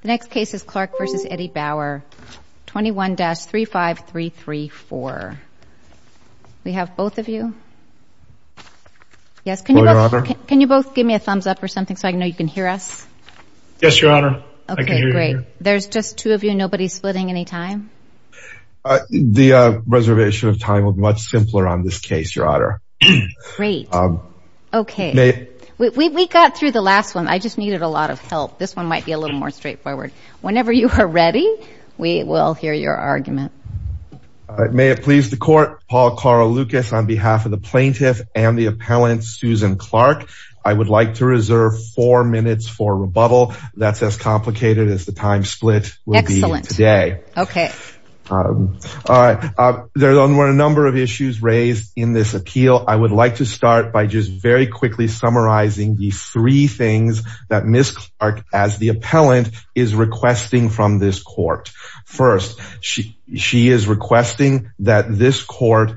The next case is Clark v. Eddie Bauer 21-35334. We have both of you. Yes, can you both give me a thumbs up or something so I know you can hear us? Yes, your honor. Okay, great. There's just two of you. Nobody's splitting any time? The reservation of time was much Great. Okay, we got through the last one. I just needed a lot of help. This one might be a little more straightforward. Whenever you are ready, we will hear your argument. May it please the court. Paul Carl Lucas on behalf of the plaintiff and the appellant Susan Clark. I would like to reserve four minutes for rebuttal. That's as complicated as the time split will be today. Okay. All right. There's a number of issues raised in this appeal. I would like to start by just very quickly summarizing the three things that Miss Clark as the appellant is requesting from this court. First, she is requesting that this court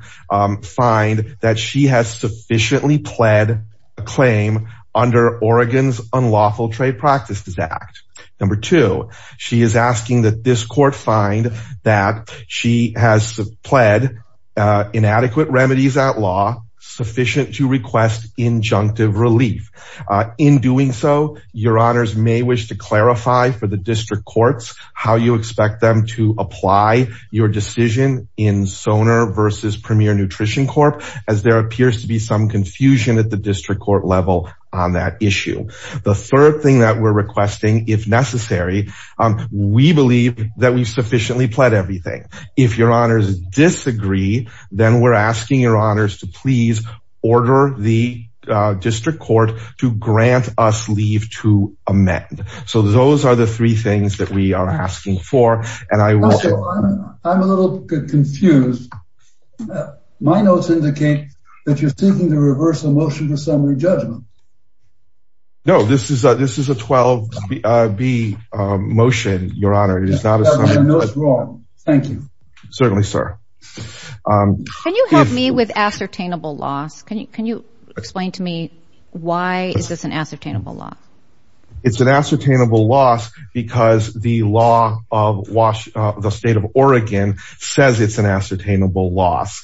find that she has sufficiently pled a claim under Oregon's Unlawful Trade Practices Act. Number two, she is asking that this court find that she has pled inadequate remedies at law sufficient to request injunctive relief. In doing so, your honors may wish to clarify for the district courts, how you expect them to apply your decision in Sonar versus Premier Nutrition Corp, as there appears to be some confusion at the district court level on that issue. The third thing that we're requesting, if necessary, we believe that we've sufficiently pled everything. If your honors disagree, then we're asking your honors to please order the district court to grant us leave to amend. So those are the three things that we are asking for. And I will... I'm a little confused. My notes indicate that you're seeking to reverse the motion to summary judgment. No, this is a this is a 12-B motion, your honor. It is not a summary. Thank you. Certainly, sir. Can you help me with ascertainable loss? Can you explain to me why is this an ascertainable loss? It's an ascertainable loss because the law of the state of Oregon says it's an ascertainable loss.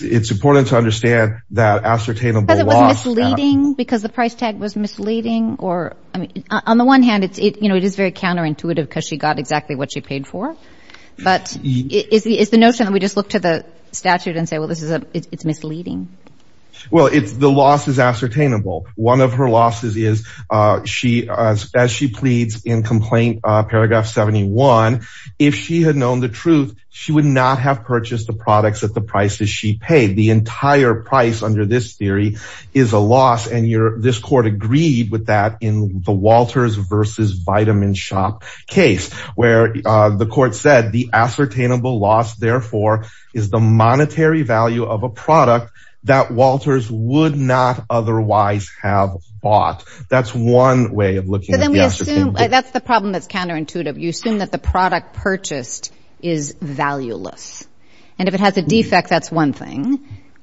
It's important to understand that ascertainable loss... Because it was misleading? Because the price tag was misleading? On the one hand, it is very counterintuitive because she got exactly what she paid for. But is the notion that we just look to the statute and say, well, it's misleading? Well, the loss is ascertainable. One of her losses is, as she pleads in complaint paragraph 71, if she had known the truth, she would not have purchased the products at the price that she paid. The entire price under this theory is a loss. And this court agreed with that in the Walters versus Vitaminshop case, where the court said the ascertainable loss, therefore, is the monetary value of a product that Walters would not otherwise have bought. That's one way of looking at it. That's the problem that's counterintuitive. You assume that the product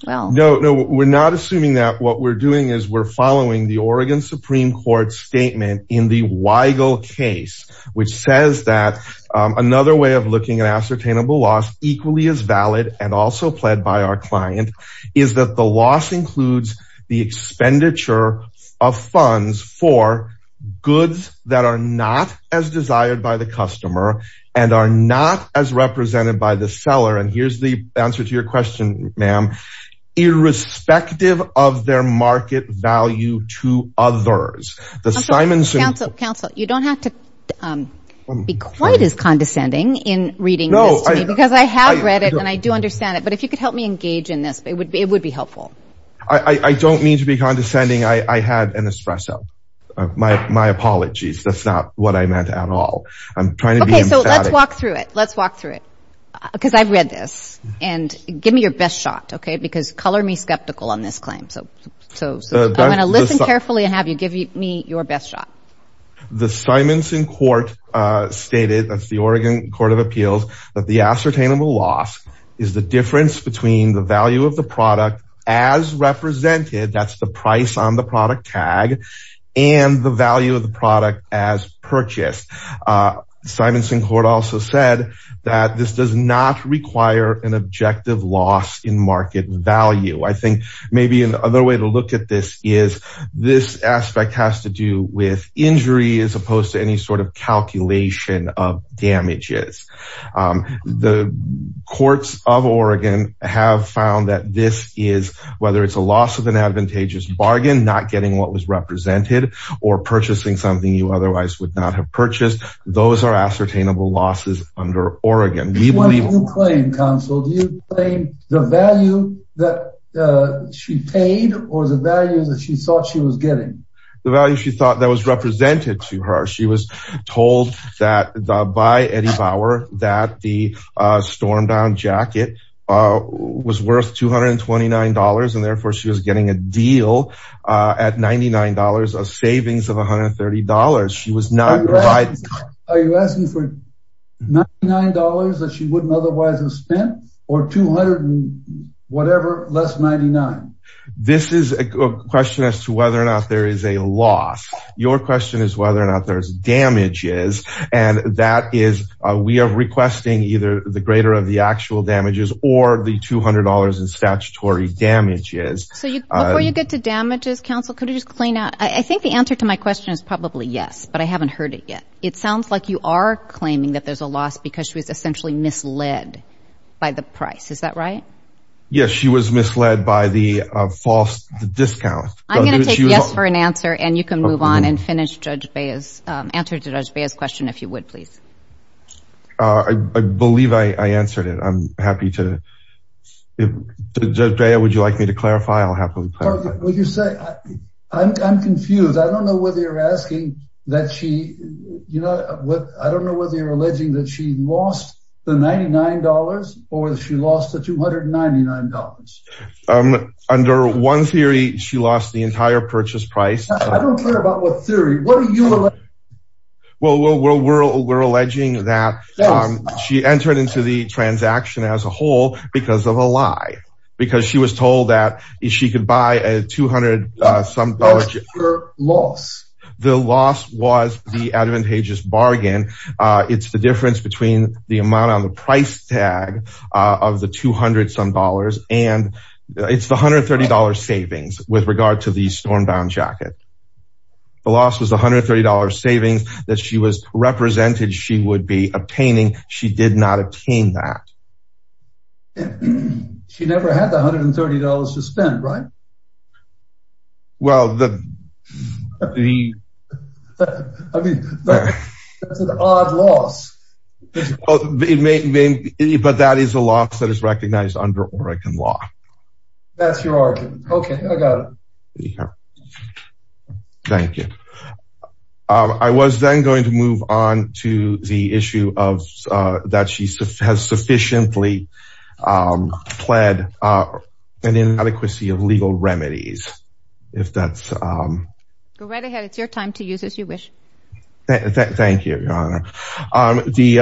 will... No, no, we're not assuming that. What we're doing is we're following the Oregon Supreme Court statement in the Weigel case, which says that another way of looking at ascertainable loss equally as valid and also pled by our client is that the loss includes the expenditure of funds for goods that are not as desired by the customer and are not as represented by the seller. And here's the answer to your question, ma'am. Irrespective of their market value to others, the Simonson... Counsel, you don't have to be quite as condescending in reading this to me, because I have read it and I do understand it. But if you could help me engage in this, it would be helpful. I don't mean to be condescending. I had an espresso. My apologies. That's not what I meant at all. I'm trying to be emphatic. Okay, so let's walk through it, because I've read this. And give me your best shot, okay? Because color me skeptical on this claim. So I'm going to listen carefully and have you give me your best shot. The Simonson court stated, that's the Oregon Court of Appeals, that the ascertainable loss is the difference between the value of the product as represented, that's the price on the product tag and the value of the product as purchased. Simonson court also said that this does not require an objective loss in market value. I think maybe another way to look at this is, this aspect has to do with injury as opposed to any sort of calculation of damages. The courts of Oregon have found that this is, whether it's a loss of an advantageous bargain, not getting what was represented, or purchasing something you otherwise would not have purchased, those are ascertainable losses under Oregon. What do you claim, counsel? Do you claim the value that she paid or the value that she thought she was getting? The value she thought that was represented to her. She was told that by Eddie Bauer, that the Stormdown jacket was worth $229 and therefore she was getting a deal at $99, a savings of $130. She was not right. Are you asking for $99 that she wouldn't otherwise have spent or 200 and whatever less 99? This is a question as to whether or not there is a loss. Your question is whether or not there's damages and that is, we are requesting either the greater of the actual damages or the $200 in statutory damages. Before you get to damages, counsel, could you just clean up? I think the answer to my question is probably yes, but I haven't heard it yet. It sounds like you are claiming that there's a loss because she was essentially misled by the price. Is that right? Yes, she was misled by the false discount. I'm going to take yes for an answer and you can move on and finish Judge Bea's, answer to Judge Bea's question if you would, please. I believe I answered it. I'm happy to, if Judge Bea, would you like me to clarify? I'll happily clarify. Would you say, I'm confused. I don't know whether you're asking that she, you know, what, I don't know whether you're alleging that she lost the $99 or that she lost the $299. Under one theory, she lost the entire purchase price. I don't care about what theory, what are you alleging? Well, we're, we're, we're alleging that she entered into the transaction as a whole because of a lie, because she was told that if she could buy a $200 some loss, the loss was the advantageous bargain. It's the difference between the amount on the price tag of the $200 some and it's the $130 savings with regard to the stormbound jacket. The loss was $130 savings that she was represented she would be obtaining. She did not obtain that. She never had the $130 to spend, right? Well, the, the, I mean, that's an odd loss. Well, it may be, but that is a loss that is recognized under Oregon law. That's your argument. Okay, I got it. Thank you. I was then going to move on to the issue of that she has sufficiently pled an inadequacy of legal remedies. If that's go right ahead. It's your time to use as you wish. Thank you, Your Honor. The,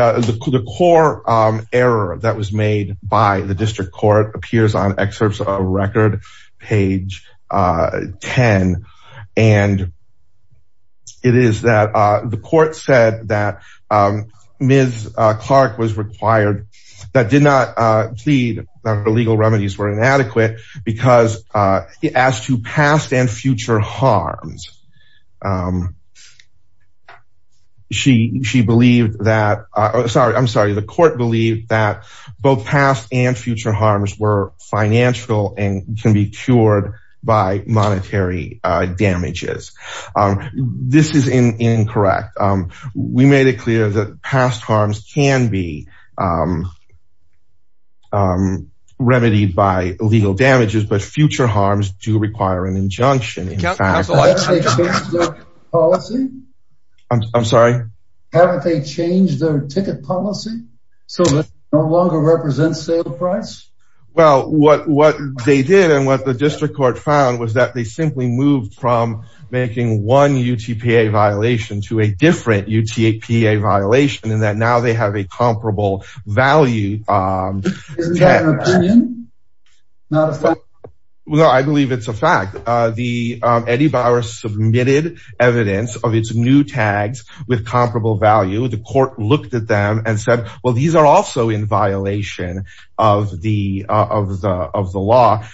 the core error that was made by the district court appears on excerpts of a record page 10. And it is that the court said that Ms. Clark was required that did not plead that the legal remedies were inadequate because he asked you past and future harms. She, she believed that, sorry, I'm sorry. The court believed that both past and future harms were financial and can be cured by monetary damages. This is incorrect. We made it clear that past harms can be remedied by legal damages, but future harms do require an injunction. I'm sorry. Haven't they changed their ticket policy? So that no longer represents sale price? Well, what, what they did and what the district court found was that they simply moved from making one UTPA violation to a different UTPA violation in that now they have a comparable not. Well, I believe it's a fact. The Eddie Bauer submitted evidence of its new tags with comparable value. The court looked at them and said, well, these are also in violation of the, of the, of the law.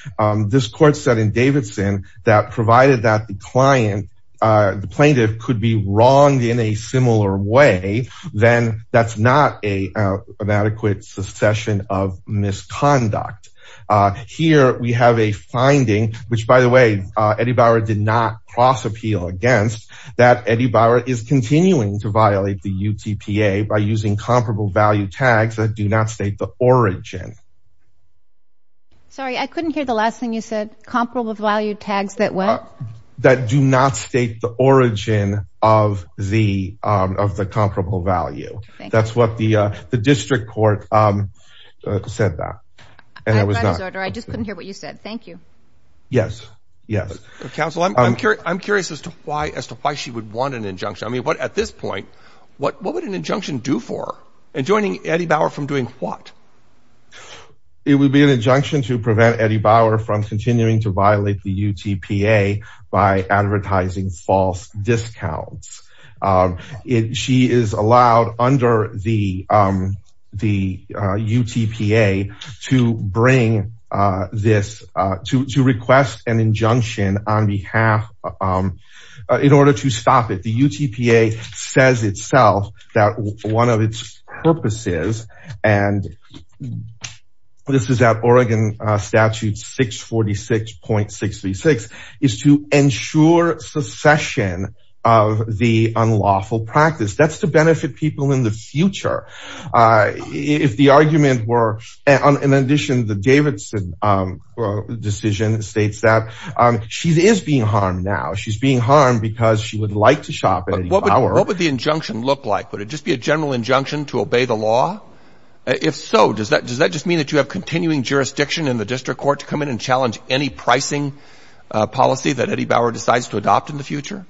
This court said in Davidson that provided that the client, the plaintiff could be wronged in a similar way, then that's not a inadequate succession of misconduct. Here we have a finding, which by the way, Eddie Bauer did not cross appeal against, that Eddie Bauer is continuing to violate the UTPA by using comparable value tags that do not state the origin. Sorry, I couldn't hear the last thing you said. Comparable value tags that what? That do not state the origin of the, of the comparable value. That's what the, the district court said that. I just couldn't hear what you said. Thank you. Yes. Yes. Counsel, I'm, I'm curious as to why, as to why she would want an injunction. I mean, what at this point, what, what would an injunction do for her and joining Eddie Bauer from doing what? It would be an injunction to prevent Eddie Bauer from continuing to violate the UTPA by advertising false discounts. It, she is allowed under the, the UTPA to bring this to, to request an injunction on behalf in order to stop it. The UTPA says itself that one of its purposes, and this is at Oregon statute 646.636, is to ensure succession of the unlawful practice. That's to benefit people in the future. If the argument were, in addition, the Davidson decision states that she is being harmed now. She's being harmed because she would like to shop at Eddie Bauer. What would the injunction look like? Would it just be a general injunction to obey the law? If so, does that, does that just mean that you have continuing jurisdiction in the district court to come in and challenge any pricing policy that Eddie Bauer decides to adopt in the future?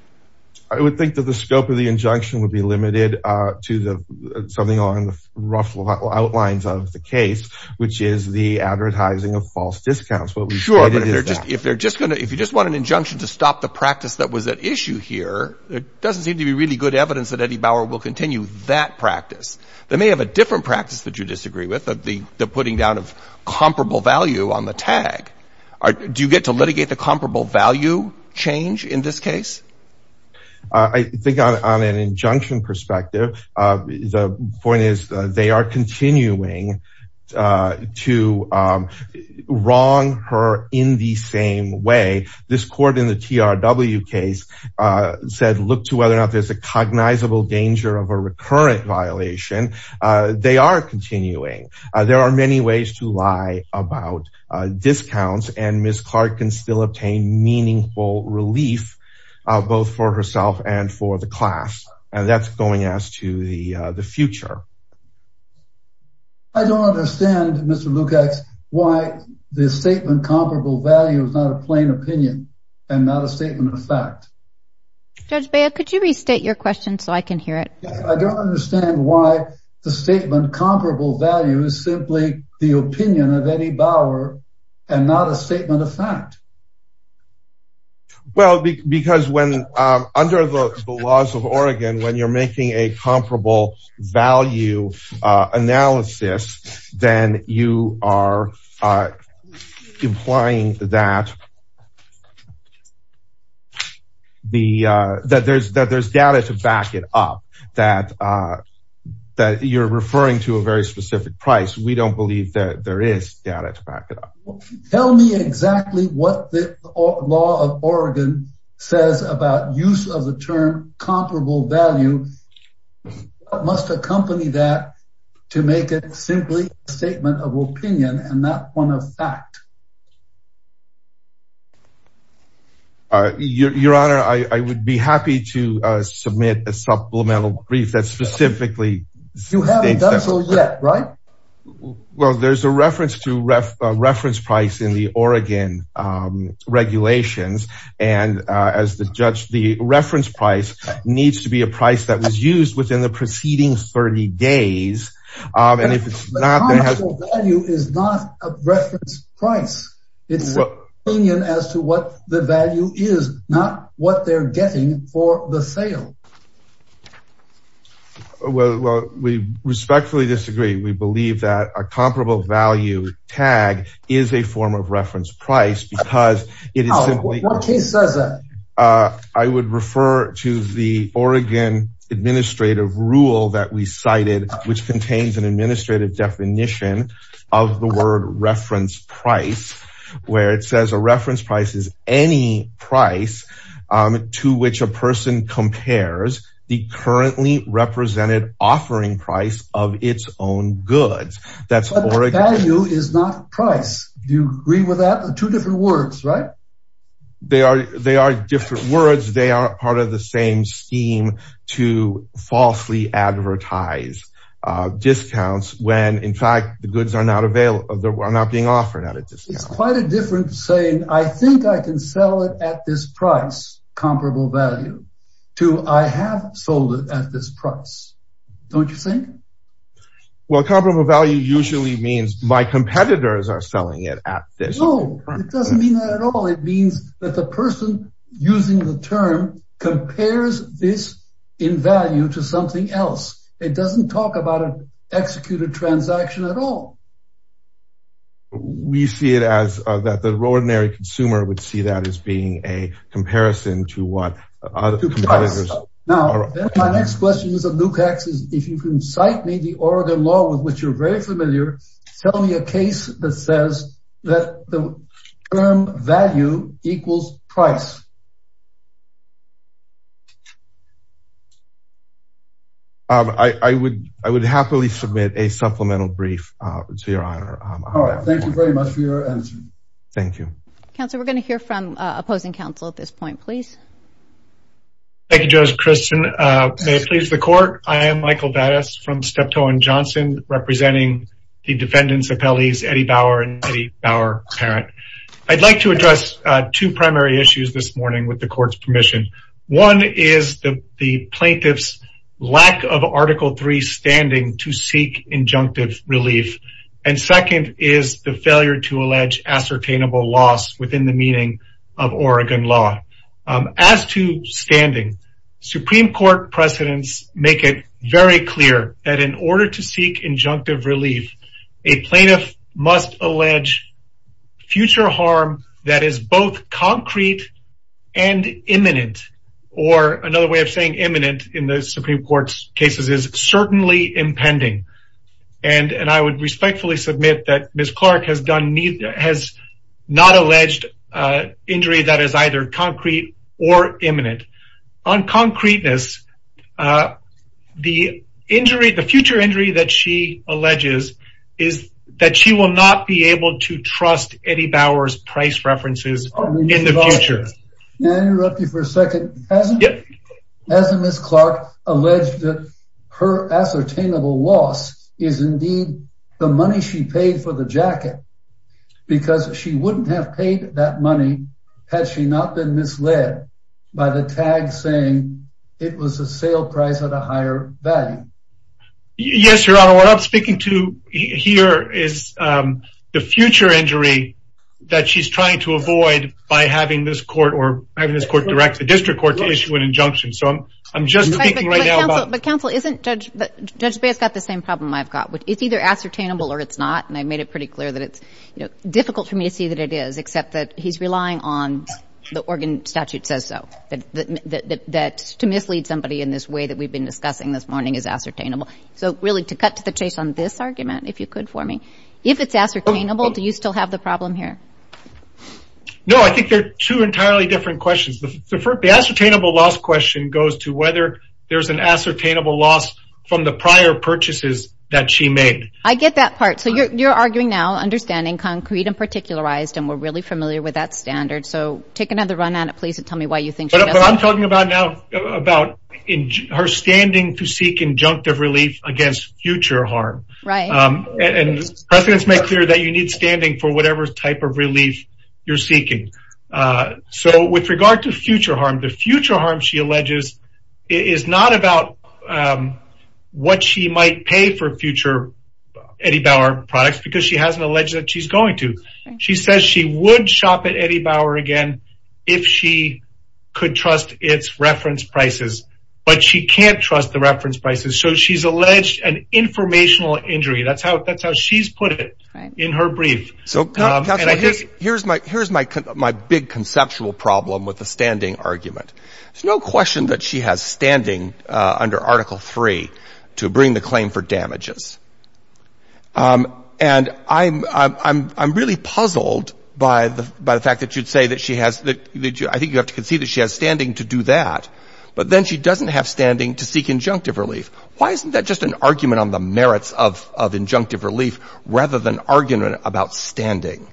I would think that the scope of the injunction would be limited to the, something along the rough outlines of the case, which is the advertising of false discounts. What we've stated is that. Sure, but if they're just, if they're just going to, if you just want an injunction to stop the practice that was at issue here, it doesn't seem to be really good evidence that Eddie Bauer will continue that practice. They may have a different practice that you disagree with, the putting down of comparable value on the tag. Do you get to litigate the comparable value change in this case? I think on an injunction perspective, the point is they are continuing to wrong her in the same way. This court in the TRW case said, look to whether or not there's a cognizable danger of a recurrent violation. They are continuing. There are many ways to lie about discounts and Ms. Clark can still obtain meaningful relief, both for herself and for the class. And that's going as to the future. I don't understand, Mr. Lukacs, why the statement comparable value is not a plain opinion and not a statement of fact. Judge Baya, could you restate your question so I can hear it? I don't understand why the statement comparable value is simply the opinion of Eddie Bauer and not a statement of fact. Well, because when, under the laws of Oregon, when you're making a statement, that there's data to back it up, that you're referring to a very specific price. We don't believe that there is data to back it up. Tell me exactly what the law of Oregon says about use of the term comparable value must accompany that to make it simply a statement of opinion and not one of fact. Your Honor, I would be happy to submit a supplemental brief that specifically states that. You haven't done so yet, right? Well, there's a reference to reference price in the Oregon regulations. And as the judge, the reference price needs to be a price that was used within the preceding 30 days. And if it's not, then it has... But the term comparable value is not a reference price. It's an opinion as to what the value is, not what they're getting for the sale. Well, we respectfully disagree. We believe that a comparable value tag is a form of reference price because it is simply... What case says that? I would refer to the Oregon administrative rule that we cited, which contains an administrative definition of the word reference price, where it says a reference price is any price to which a person compares the currently represented offering price of its own goods. That's Oregon. But value is not price. Do you agree with that? Two different words, right? They are different words. They are part of the same scheme to falsely advertise discounts when, in fact, the goods are not being offered at a discount. It's quite a difference saying, I think I can sell it at this price, comparable value, to I have sold it at this price. Don't you think? Well, comparable value usually means my competitors are selling it at this. It doesn't mean that at all. It means that the person using the term compares this in value to something else. It doesn't talk about an executed transaction at all. We see it as that the ordinary consumer would see that as being a comparison to what... Now, my next question is, if you can cite me the Oregon law with which you're very familiar, tell me a case that says that the term value equals price. I would happily submit a supplemental brief to your honor. All right. Thank you very much for your answer. Thank you. Counselor, we're going to hear from opposing counsel at this point, please. Thank you, Judge Christian. May it please the court. I am Michael Vadas from Steptoe and Johnson representing the defendant's appellees, Eddie Bauer and Eddie Bauer parent. I'd like to address two primary issues this morning with the court's permission. One is the plaintiff's lack of Article III standing to seek injunctive relief. And second is the failure to allege ascertainable loss within the meaning of Oregon law. As to standing, Supreme Court precedents make it very clear that in order to seek injunctive relief, a plaintiff must allege future harm that is both concrete and imminent, or another way of saying imminent in the Supreme Court's cases is certainly impending. And I would respectfully submit that Ms. Clark has not alleged injury that is either concrete or imminent. On concreteness, the future injury that she alleges is that she will not be able to trust Eddie Bauer's price references in the future. May I interrupt you for a second? Hasn't Ms. Clark alleged that her ascertainable loss is indeed the money she paid for the jacket because she wouldn't have paid that money had she not been misled by the tag saying it was a sale price at a higher value? Yes, Your Honor, what I'm speaking to here is the future injury that she's trying to avoid by having this court or having this court direct the district court to issue an injunction. So I'm just thinking right now about- But counsel, isn't Judge, Judge Baer's got the same problem I've got, it's either ascertainable or it's not. And I made it pretty clear that it's difficult for me to see that it is, except that he's relying on the Oregon statute says so, that to mislead somebody in this way that we've been discussing this morning is ascertainable. So really to cut to the chase on this argument, if you could for me, if it's ascertainable, do you still have the problem here? No, I think they're two entirely different questions. The ascertainable loss question goes to whether there's an ascertainable loss from the prior purchases that she made. I get that part. So you're arguing now understanding concrete and particularized, and we're really familiar with that standard. So take another run at it, please, and tell me why you think- But I'm talking about now, about her standing to seek injunctive relief against future harm. Right. And precedents make clear that you need standing for whatever type of relief you're seeking. So with regard to future harm, the future harm, she alleges, is not about what she might pay for future Eddie Bauer products, because she hasn't alleged that she's going to. She says she would shop at Eddie Bauer again, if she could trust its reference prices, but she can't trust the reference prices. So she's alleged an informational injury. That's how she's put it in her brief. So here's my big conceptual problem with the standing argument. There's no question that she has standing under Article III to bring the claim for damages. And I'm really puzzled by the fact that you'd say that she has, I think you have to concede that she has standing to do that, but then she doesn't have standing to seek injunctive relief. Why isn't that just an argument on the merits of injunctive relief rather than argument about standing?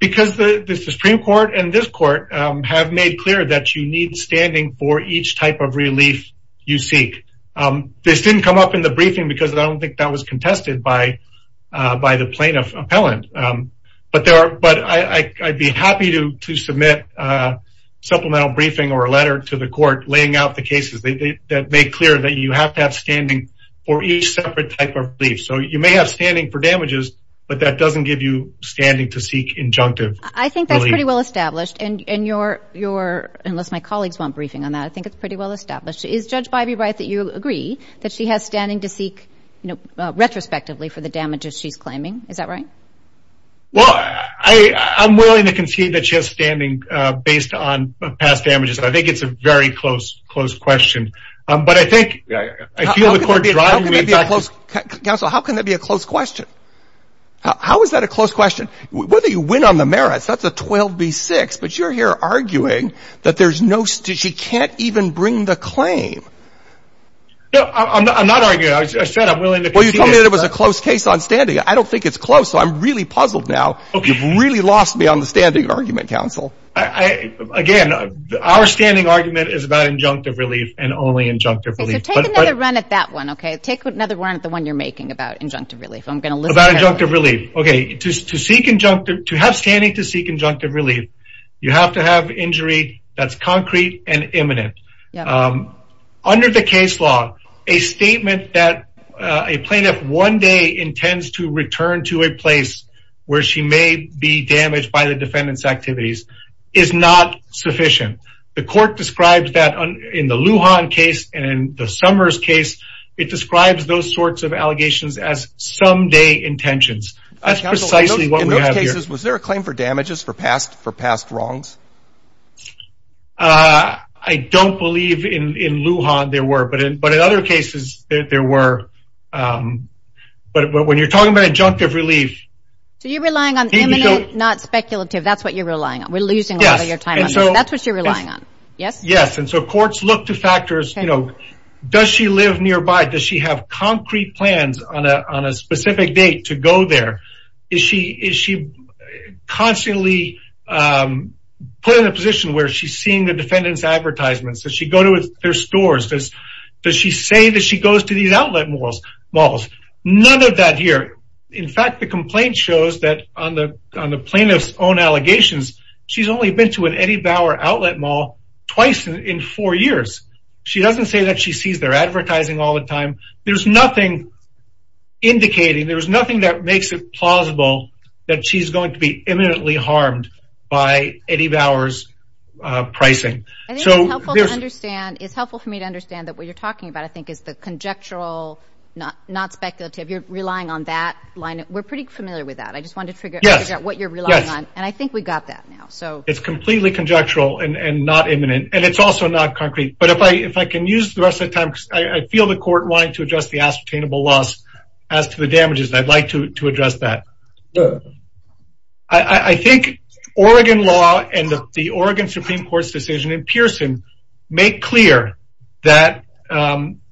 Because the Supreme Court and this court have made clear that you need standing for each type of relief you seek. This didn't come up in the briefing because I don't think that was contested by the plaintiff appellant. But I'd be happy to submit a supplemental briefing or a letter to the plaintiff appellant that made clear that you have to have standing for each separate type of relief. So you may have standing for damages, but that doesn't give you standing to seek injunctive relief. I think that's pretty well established. Unless my colleagues want briefing on that, I think it's pretty well established. Is Judge Bybee right that you agree that she has standing to seek retrospectively for the damages she's claiming? Is that right? Well, I'm willing to concede that she has standing based on past damages. I think it's a very close question. But I think I feel the court driving me back to... Counsel, how can that be a close question? How is that a close question? Whether you win on the merits, that's a 12B6, but you're here arguing that she can't even bring the claim. No, I'm not arguing. I said I'm willing to... Well, you told me that it was a close case on standing. I don't think it's close, so I'm really puzzled now. You've really lost me on the standing argument, counsel. Again, our standing argument is about injunctive relief and only injunctive relief. So take another run at that one, okay? Take another run at the one you're making about injunctive relief. I'm going to listen... About injunctive relief. Okay. To have standing to seek injunctive relief, you have to have injury that's concrete and imminent. Under the case law, a statement that a plaintiff one day intends to return to a place where she may be damaged by the defendant's activities is not sufficient. The court describes that in the Lujan case and in the Summers case, it describes those sorts of allegations as someday intentions. That's precisely what we have here. Counsel, in those cases, was there a claim for damages for past wrongs? I don't believe in Lujan there were, but in other cases there were. But when you're talking about injunctive relief... So you're relying on imminent, not speculative. That's what you're relying on. We're losing a lot of your time. That's what you're relying on. Yes. Yes. And so courts look to factors, you know, does she live nearby? Does she have concrete plans on a specific date to go there? Is she constantly put in a position where she's seeing the defendant's advertisements? Does she go to their stores? Does she say that she goes to these outlet malls? None of that here. In fact, the complaint shows that on the plaintiff's own allegations, she's only been to an Eddie Bauer outlet mall twice in four years. She doesn't say that she sees their advertising all the time. There's nothing indicating, there's nothing that makes it plausible that she's going to be imminently harmed by Eddie Bauer's pricing. I think it's helpful for me to understand that what you're talking about, I think, is the conjectural, not speculative. You're relying on that line. We're pretty familiar with that. I just wanted to figure out what you're relying on. And I think we got that now. It's completely conjectural and not imminent. And it's also not concrete. But if I can use the rest of the time, I feel the court wanted to address the ascertainable loss as to the damages. I'd like to address that. I think Oregon law and the Oregon Supreme Court's decision in Pearson make clear that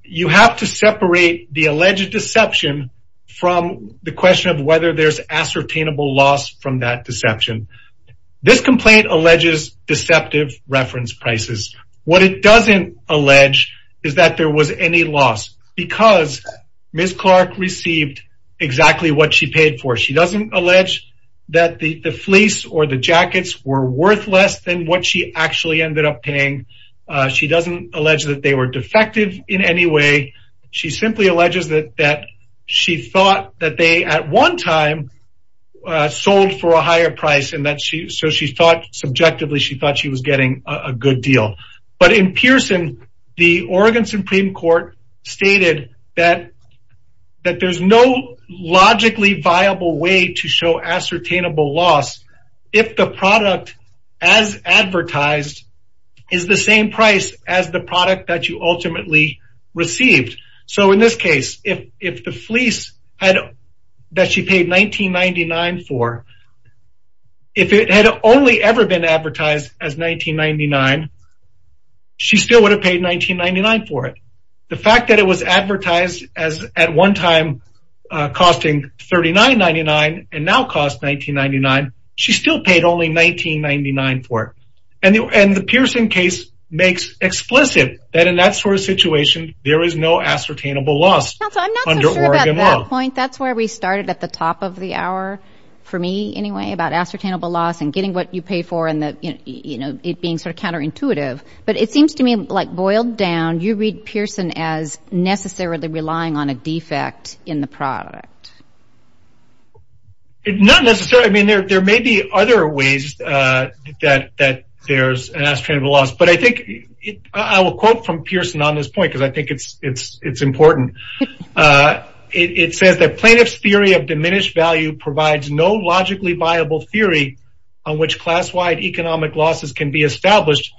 you have to separate the alleged deception from the question of whether there's ascertainable loss from that deception. This complaint alleges deceptive reference prices. What it doesn't allege is that there was any loss because Ms. Clark received exactly what she paid for. She doesn't allege that the fleece or the jackets were worth less than what she actually ended up paying. She doesn't allege that they were defective in any way. She simply alleges that she thought that they, at one time, sold for a higher price. So subjectively, she thought she was getting a good deal. But in Pearson, the Oregon Supreme Court stated that there's no logically viable way to show ascertainable loss if the product as advertised is the same price as the product that you ultimately received. So in this case, if the fleece that she paid $19.99 for, if it had only ever been advertised as $19.99, she still would have paid $19.99 for it. The fact that it was advertised as, at one time, costing $39.99 and now costs $19.99, she still paid only $19.99 for it. And the Pearson case makes explicit that in that sort of situation, there is no ascertainable loss under Oregon law. I'm not so sure about that point. That's where we started at the top of the hour, for me anyway, about ascertainable loss and getting what you pay for and it being sort of counterintuitive. But it seems to me like, boiled down, you read Pearson as necessarily relying on a defect in the product. Not necessarily. I mean, there may be other ways that there's an ascertainable loss. But I think I will quote from Pearson on this point because I think it's important. It says that plaintiff's theory of diminished value provides no logically viable theory on which class-wide economic losses can be established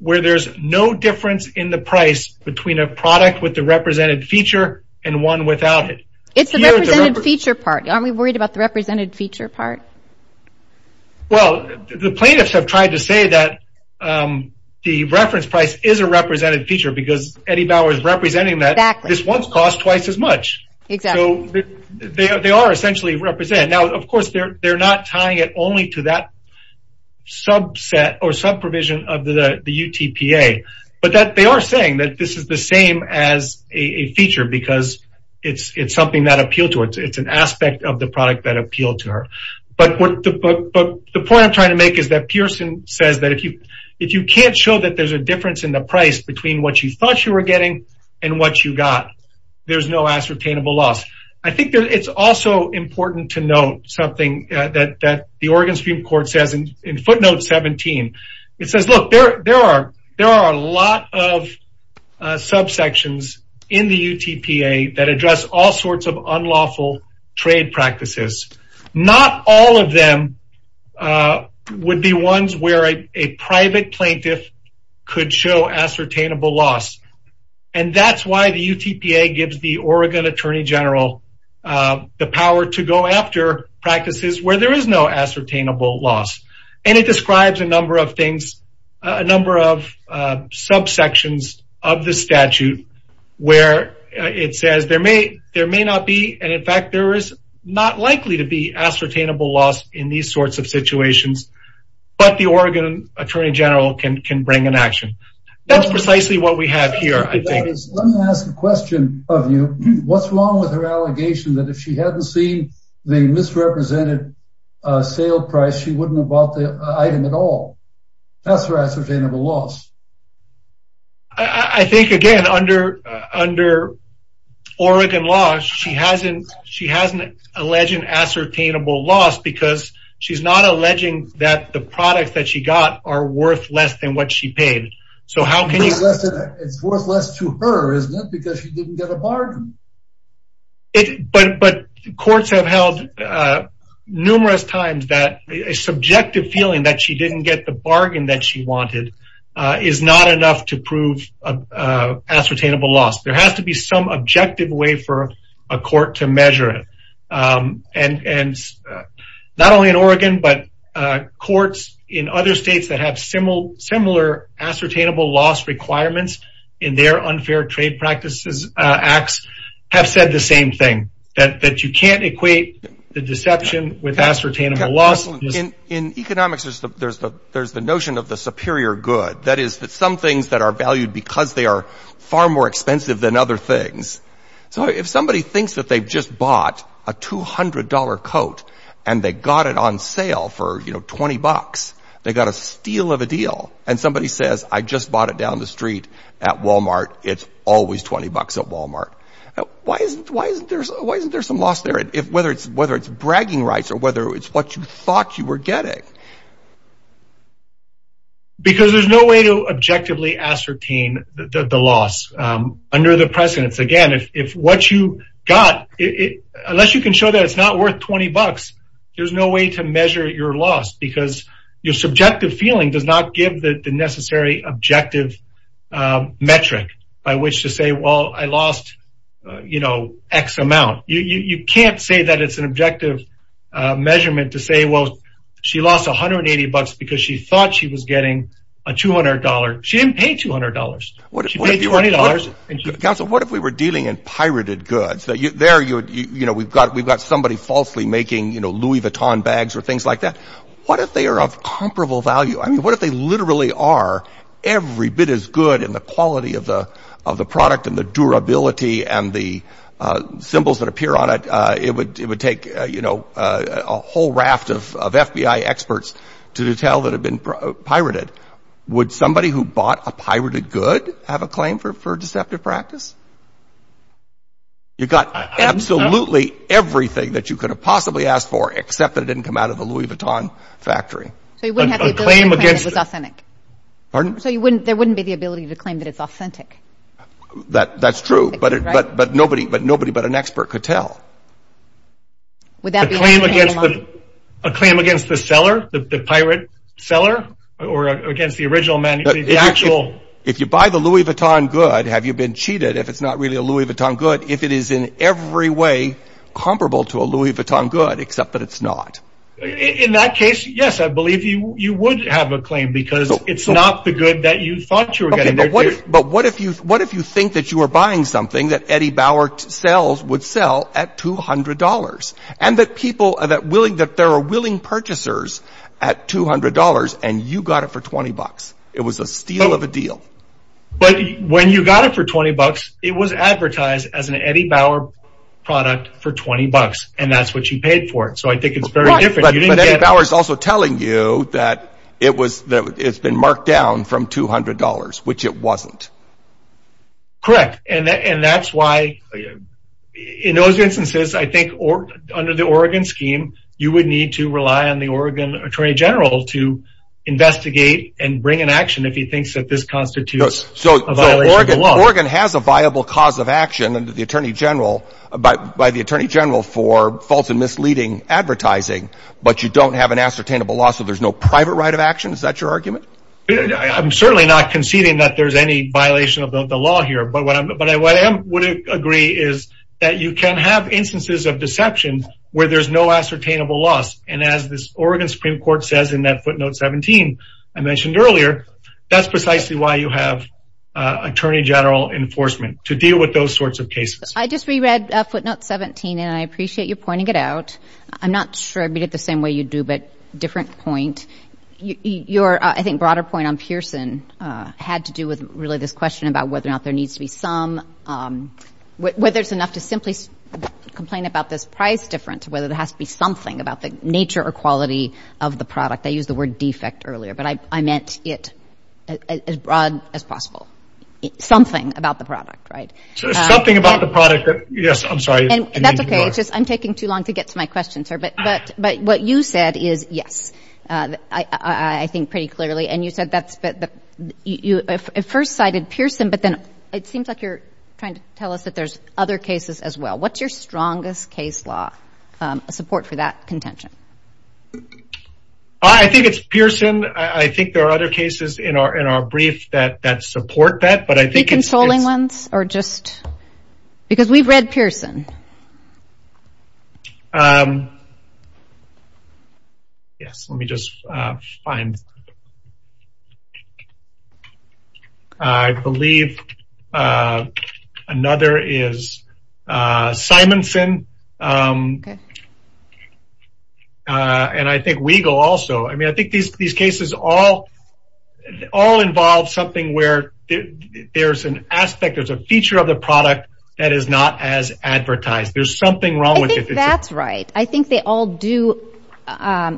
where there's no difference in the price between a product with the represented feature and one without it. It's the represented feature part. Aren't we worried about the represented feature part? Well, the plaintiffs have tried to say that the reference price is a represented feature because Eddie Bauer is representing that this once cost twice as much. Exactly. They are essentially represented. Now, they're not tying it only to that subset or sub-provision of the UTPA. But they are saying that this is the same as a feature because it's something that appealed to her. It's an aspect of the product that appealed to her. But the point I'm trying to make is that Pearson says that if you can't show that there's a difference in the price between what you thought you were getting and what you got, there's no ascertainable loss. I think it's also important to note something that the Oregon Supreme Court says in footnote 17. It says, look, there are a lot of subsections in the UTPA that address all sorts of unlawful trade practices. Not all of them would be ones where a private plaintiff could show ascertainable loss. And that's why the UTPA gives the Oregon Attorney General the power to go after practices where there is no ascertainable loss. And it describes a number of things, a number of subsections of the statute where it says there may or may not be. And in fact, there is not likely to be ascertainable loss in these sorts of situations. But the Oregon Attorney General can bring an action. That's precisely what we have here. Let me ask a question of you. What's wrong with her allegation that if she hadn't seen the misrepresented sale price, she wouldn't have bought the item at all? That's her ascertainable loss. I think, again, under Oregon law, she hasn't alleged ascertainable loss because she's not alleging that the products that she got are worth less than what she paid. So how can you... It's worth less to her, isn't it? Because she didn't get a bargain. But courts have held numerous times that a subjective feeling that she didn't get the bargain that she wanted is not enough to prove ascertainable loss. There has to be some objective way for a court to measure it. And not only in Oregon, but courts in other states that have similar ascertainable loss requirements in their unfair trade practices acts have said the same thing, that you can't equate the deception with ascertainable loss. In economics, there's the notion of the superior good. That is that some things that are valued because they are far more valuable than others. If somebody thinks that they've just bought a $200 coat and they got it on sale for $20, they got a steal of a deal, and somebody says, I just bought it down the street at Walmart, it's always $20 at Walmart. Why isn't there some loss there, whether it's bragging rights or whether it's what you thought you were getting? Because there's no way to objectively ascertain the loss under the precedence. Again, if what you got, unless you can show that it's not worth $20, there's no way to measure your loss because your subjective feeling does not give the necessary objective metric by which to say, well, I lost X amount. You can't say that it's an objective measurement to say, well, she lost $180 because she thought she was getting a $200. She didn't pay $200. She paid $20. Council, what if we were dealing in pirated goods? We've got somebody falsely making Louis Vuitton bags or things like that. What if they are of comparable value? What if they literally are every bit as good in the quality of the product and the durability and the symbols that appear on it? It would take a whole raft of FBI experts to tell that it had been pirated. Would somebody who bought a pirated good have a claim for deceptive practice? You got absolutely everything that you could have possibly asked for, except that it didn't come out of the Louis Vuitton factory. There wouldn't be the ability to claim that it's authentic. That's true, but nobody but an expert could tell. Would that be a claim against the seller, the pirate seller, or against the original man? If you buy the Louis Vuitton good, have you been cheated if it's not really a Louis Vuitton good, if it is in every way comparable to a Louis Vuitton good, except that it's not? In that case, yes, I believe you would have a claim because it's not the good that you thought you were getting. But what if you think that you were buying something that Eddie Bauer sells would sell at $200, and that there are willing purchasers at $200, and you got it for $20? It was a steal of a deal. But when you got it for $20, it was advertised as an Eddie Bauer product for $20, and that's what you paid for it. So I think it's very different. But Eddie Bauer is also telling you that it's been marked down from $200, which it wasn't. Correct. And that's why in those instances, I think under the Oregon scheme, you would need to rely on the Oregon Attorney General to investigate and bring an action if he thinks that this constitutes a violation of the law. So Oregon has a viable cause of action by the you don't have an ascertainable loss, so there's no private right of action. Is that your argument? I'm certainly not conceding that there's any violation of the law here. But what I would agree is that you can have instances of deception where there's no ascertainable loss. And as this Oregon Supreme Court says in that footnote 17 I mentioned earlier, that's precisely why you have Attorney General enforcement to deal with those sorts of cases. I just reread footnote 17, and I appreciate you pointing it out. I'm not sure I'd read it the same way you do, but different point. Your, I think, broader point on Pearson had to do with really this question about whether or not there needs to be some, whether it's enough to simply complain about this price difference, whether there has to be something about the nature or quality of the product. I used the word defect earlier, but I meant it as broad as possible. Something about the product, right? Something about the product. Yes, I'm sorry. That's okay. It's just, I'm taking too long to get to my questions here. But what you said is, yes, I think pretty clearly. And you said that you first cited Pearson, but then it seems like you're trying to tell us that there's other cases as well. What's your strongest case law support for that contention? I think it's Pearson. I think there are other cases in our brief that support that. Deconsoling ones or just, because we've read Pearson. Yes, let me just find. I believe another is Simonson. Okay. And I think Weigel also. I mean, I think these cases all involve something where there's an aspect, there's a feature of the product that is not as advertised. There's something wrong with it. I think that's right. I think they all do.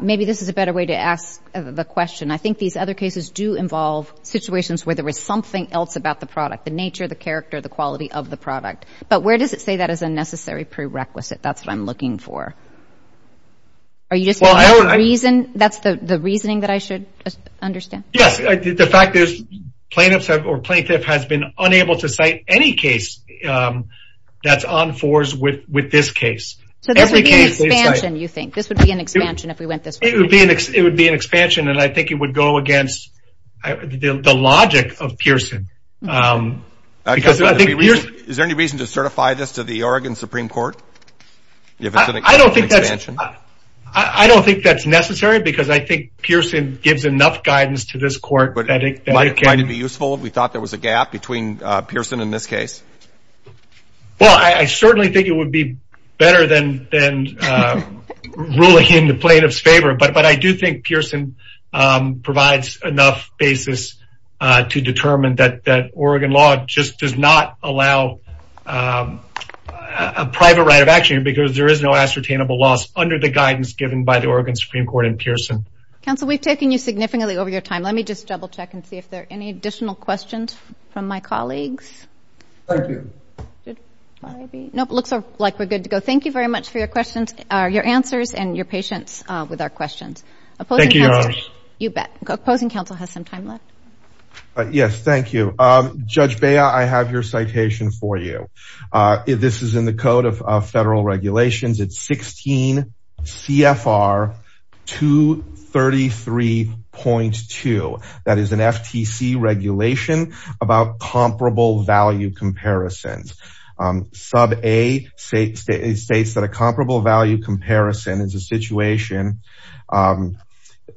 Maybe this is a better way to ask the question. I think these other cases do involve situations where there was something else about the product, the nature, the character, the quality of the product. But where does it say that as a necessary prerequisite? That's what I'm looking for. That's the reasoning that I should understand. Yes, the fact is plaintiff has been unable to cite any case that's on force with this case. This would be an expansion if we went this way. It would be an expansion, and I think it would go against the logic of Pearson. Okay. Is there any reason to certify this to the Oregon Supreme Court? I don't think that's necessary because I think Pearson gives enough guidance to this court. Might it be useful? We thought there was a gap between Pearson in this case. Well, I certainly think it would be better than ruling in the plaintiff's favor. But I do think Oregon law just does not allow a private right of action because there is no ascertainable loss under the guidance given by the Oregon Supreme Court and Pearson. Counsel, we've taken you significantly over your time. Let me just double check and see if there are any additional questions from my colleagues. Thank you. No, it looks like we're good to go. Thank you very much for your answers and your patience with our questions. Thank you, Your Honor. You bet. The opposing counsel has some time left. Yes, thank you. Judge Bea, I have your citation for you. This is in the Code of Federal Regulations. It's 16 CFR 233.2. That is an FTC regulation about comparable value comparisons. Sub A states that a comparable value comparison is a situation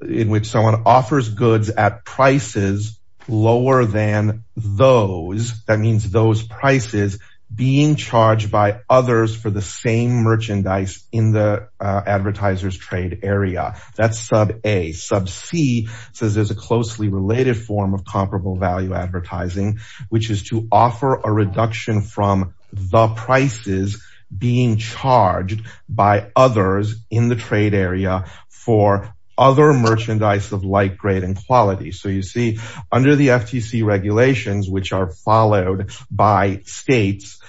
in which someone offers goods at prices lower than those. That means those prices being charged by others for the same merchandise in the advertiser's trade area. That's sub A. Sub C says there's a closely related form of comparable value advertising, which is to offer a reduction from the prices being charged by others in the trade area for other merchandise of like grade and quality. So you see, under the FTC regulations, which are followed by states,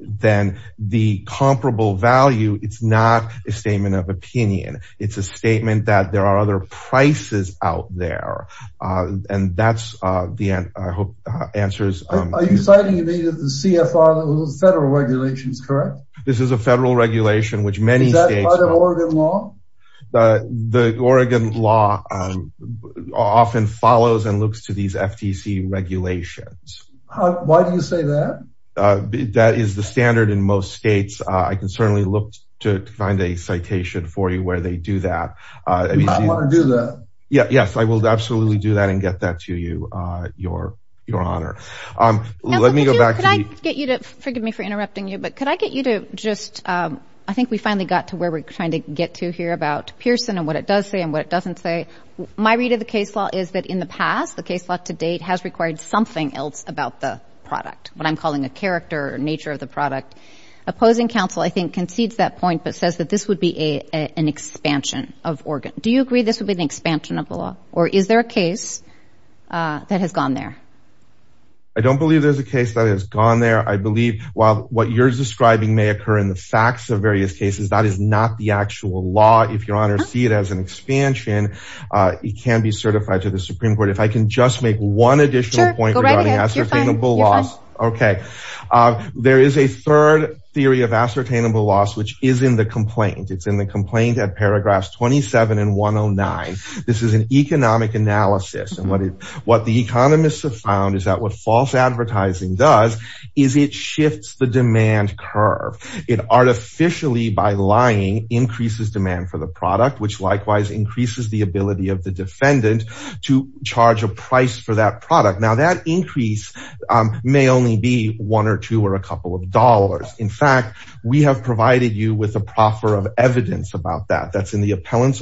then the comparable value, it's not a statement of opinion. It's a statement that there are other prices out there. And that's the end, I hope, answers. Are you citing the CFR Federal Regulations, correct? This is a federal regulation, which many states... Is that part of Oregon law? The Oregon law often follows and looks to these FTC regulations. Why do you say that? That is the standard in most states. I can certainly look to find a citation for you where they do that. You might want to do that. Yes, I will absolutely do that and get that to you, Your Honor. Let me go back to... Now, could I get you to... Forgive me for interrupting you, but could I get you to just... I think we finally got to where we're trying to get to here about Pearson and what it does say and what it doesn't say. My read of the case law is that in the past, the case law to date has required something else about the product, what I'm calling a character or nature of the product. Opposing counsel, I think, concedes that point, but says that this would be an expansion of Oregon. Do you agree this would be an expansion of the law, or is there a case that has gone there? I don't believe there's a case that has gone there. I believe while what you're describing may occur in the facts of various cases, that is not the actual law. If Your Honor see it as an expansion, it can be certified to the Supreme Court. If I can just make one additional point... Sure, go right ahead. You're fine. Okay. There is a third theory of ascertainable loss, which is in the complaint. It's in the 27 and 109. This is an economic analysis. What the economists have found is that what false advertising does is it shifts the demand curve. It artificially, by lying, increases demand for the product, which likewise increases the ability of the defendant to charge a price for that product. Now, that increase may only be one or two or a couple of dollars. In fact, we have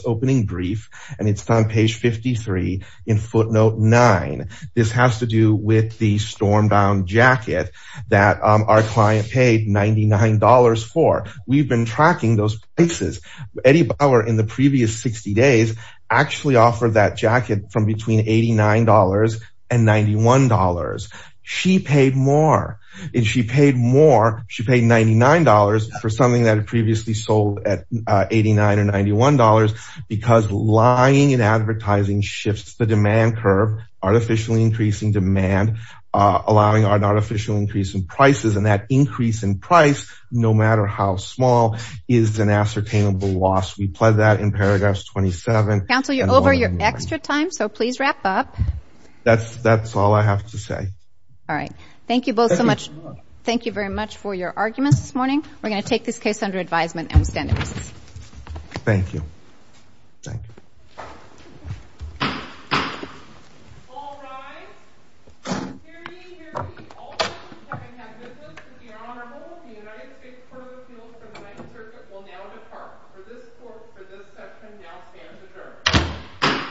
opening brief, and it's on page 53 in footnote nine. This has to do with the storm-bound jacket that our client paid $99 for. We've been tracking those prices. Eddie Bauer, in the previous 60 days, actually offered that jacket from between $89 and $91. She paid more. She paid $99 for something that had previously sold at $89 or $91 because lying and advertising shifts the demand curve, artificially increasing demand, allowing an artificial increase in prices. That increase in price, no matter how small, is an ascertainable loss. We plug that in paragraph 27. Counsel, you're over your extra time, so please wrap up. That's all I have to say. All right. Thank you both so much. Thank you very much for your arguments this morning. We're going to take this case under advisement, and we stand at recess. Thank you. Thank you. All rise. Hear ye, hear ye. All those who have business with the Honorable, the United States Court of Appeals for the Ninth Circuit will now depart. For this court, for this section, now stands adjourned.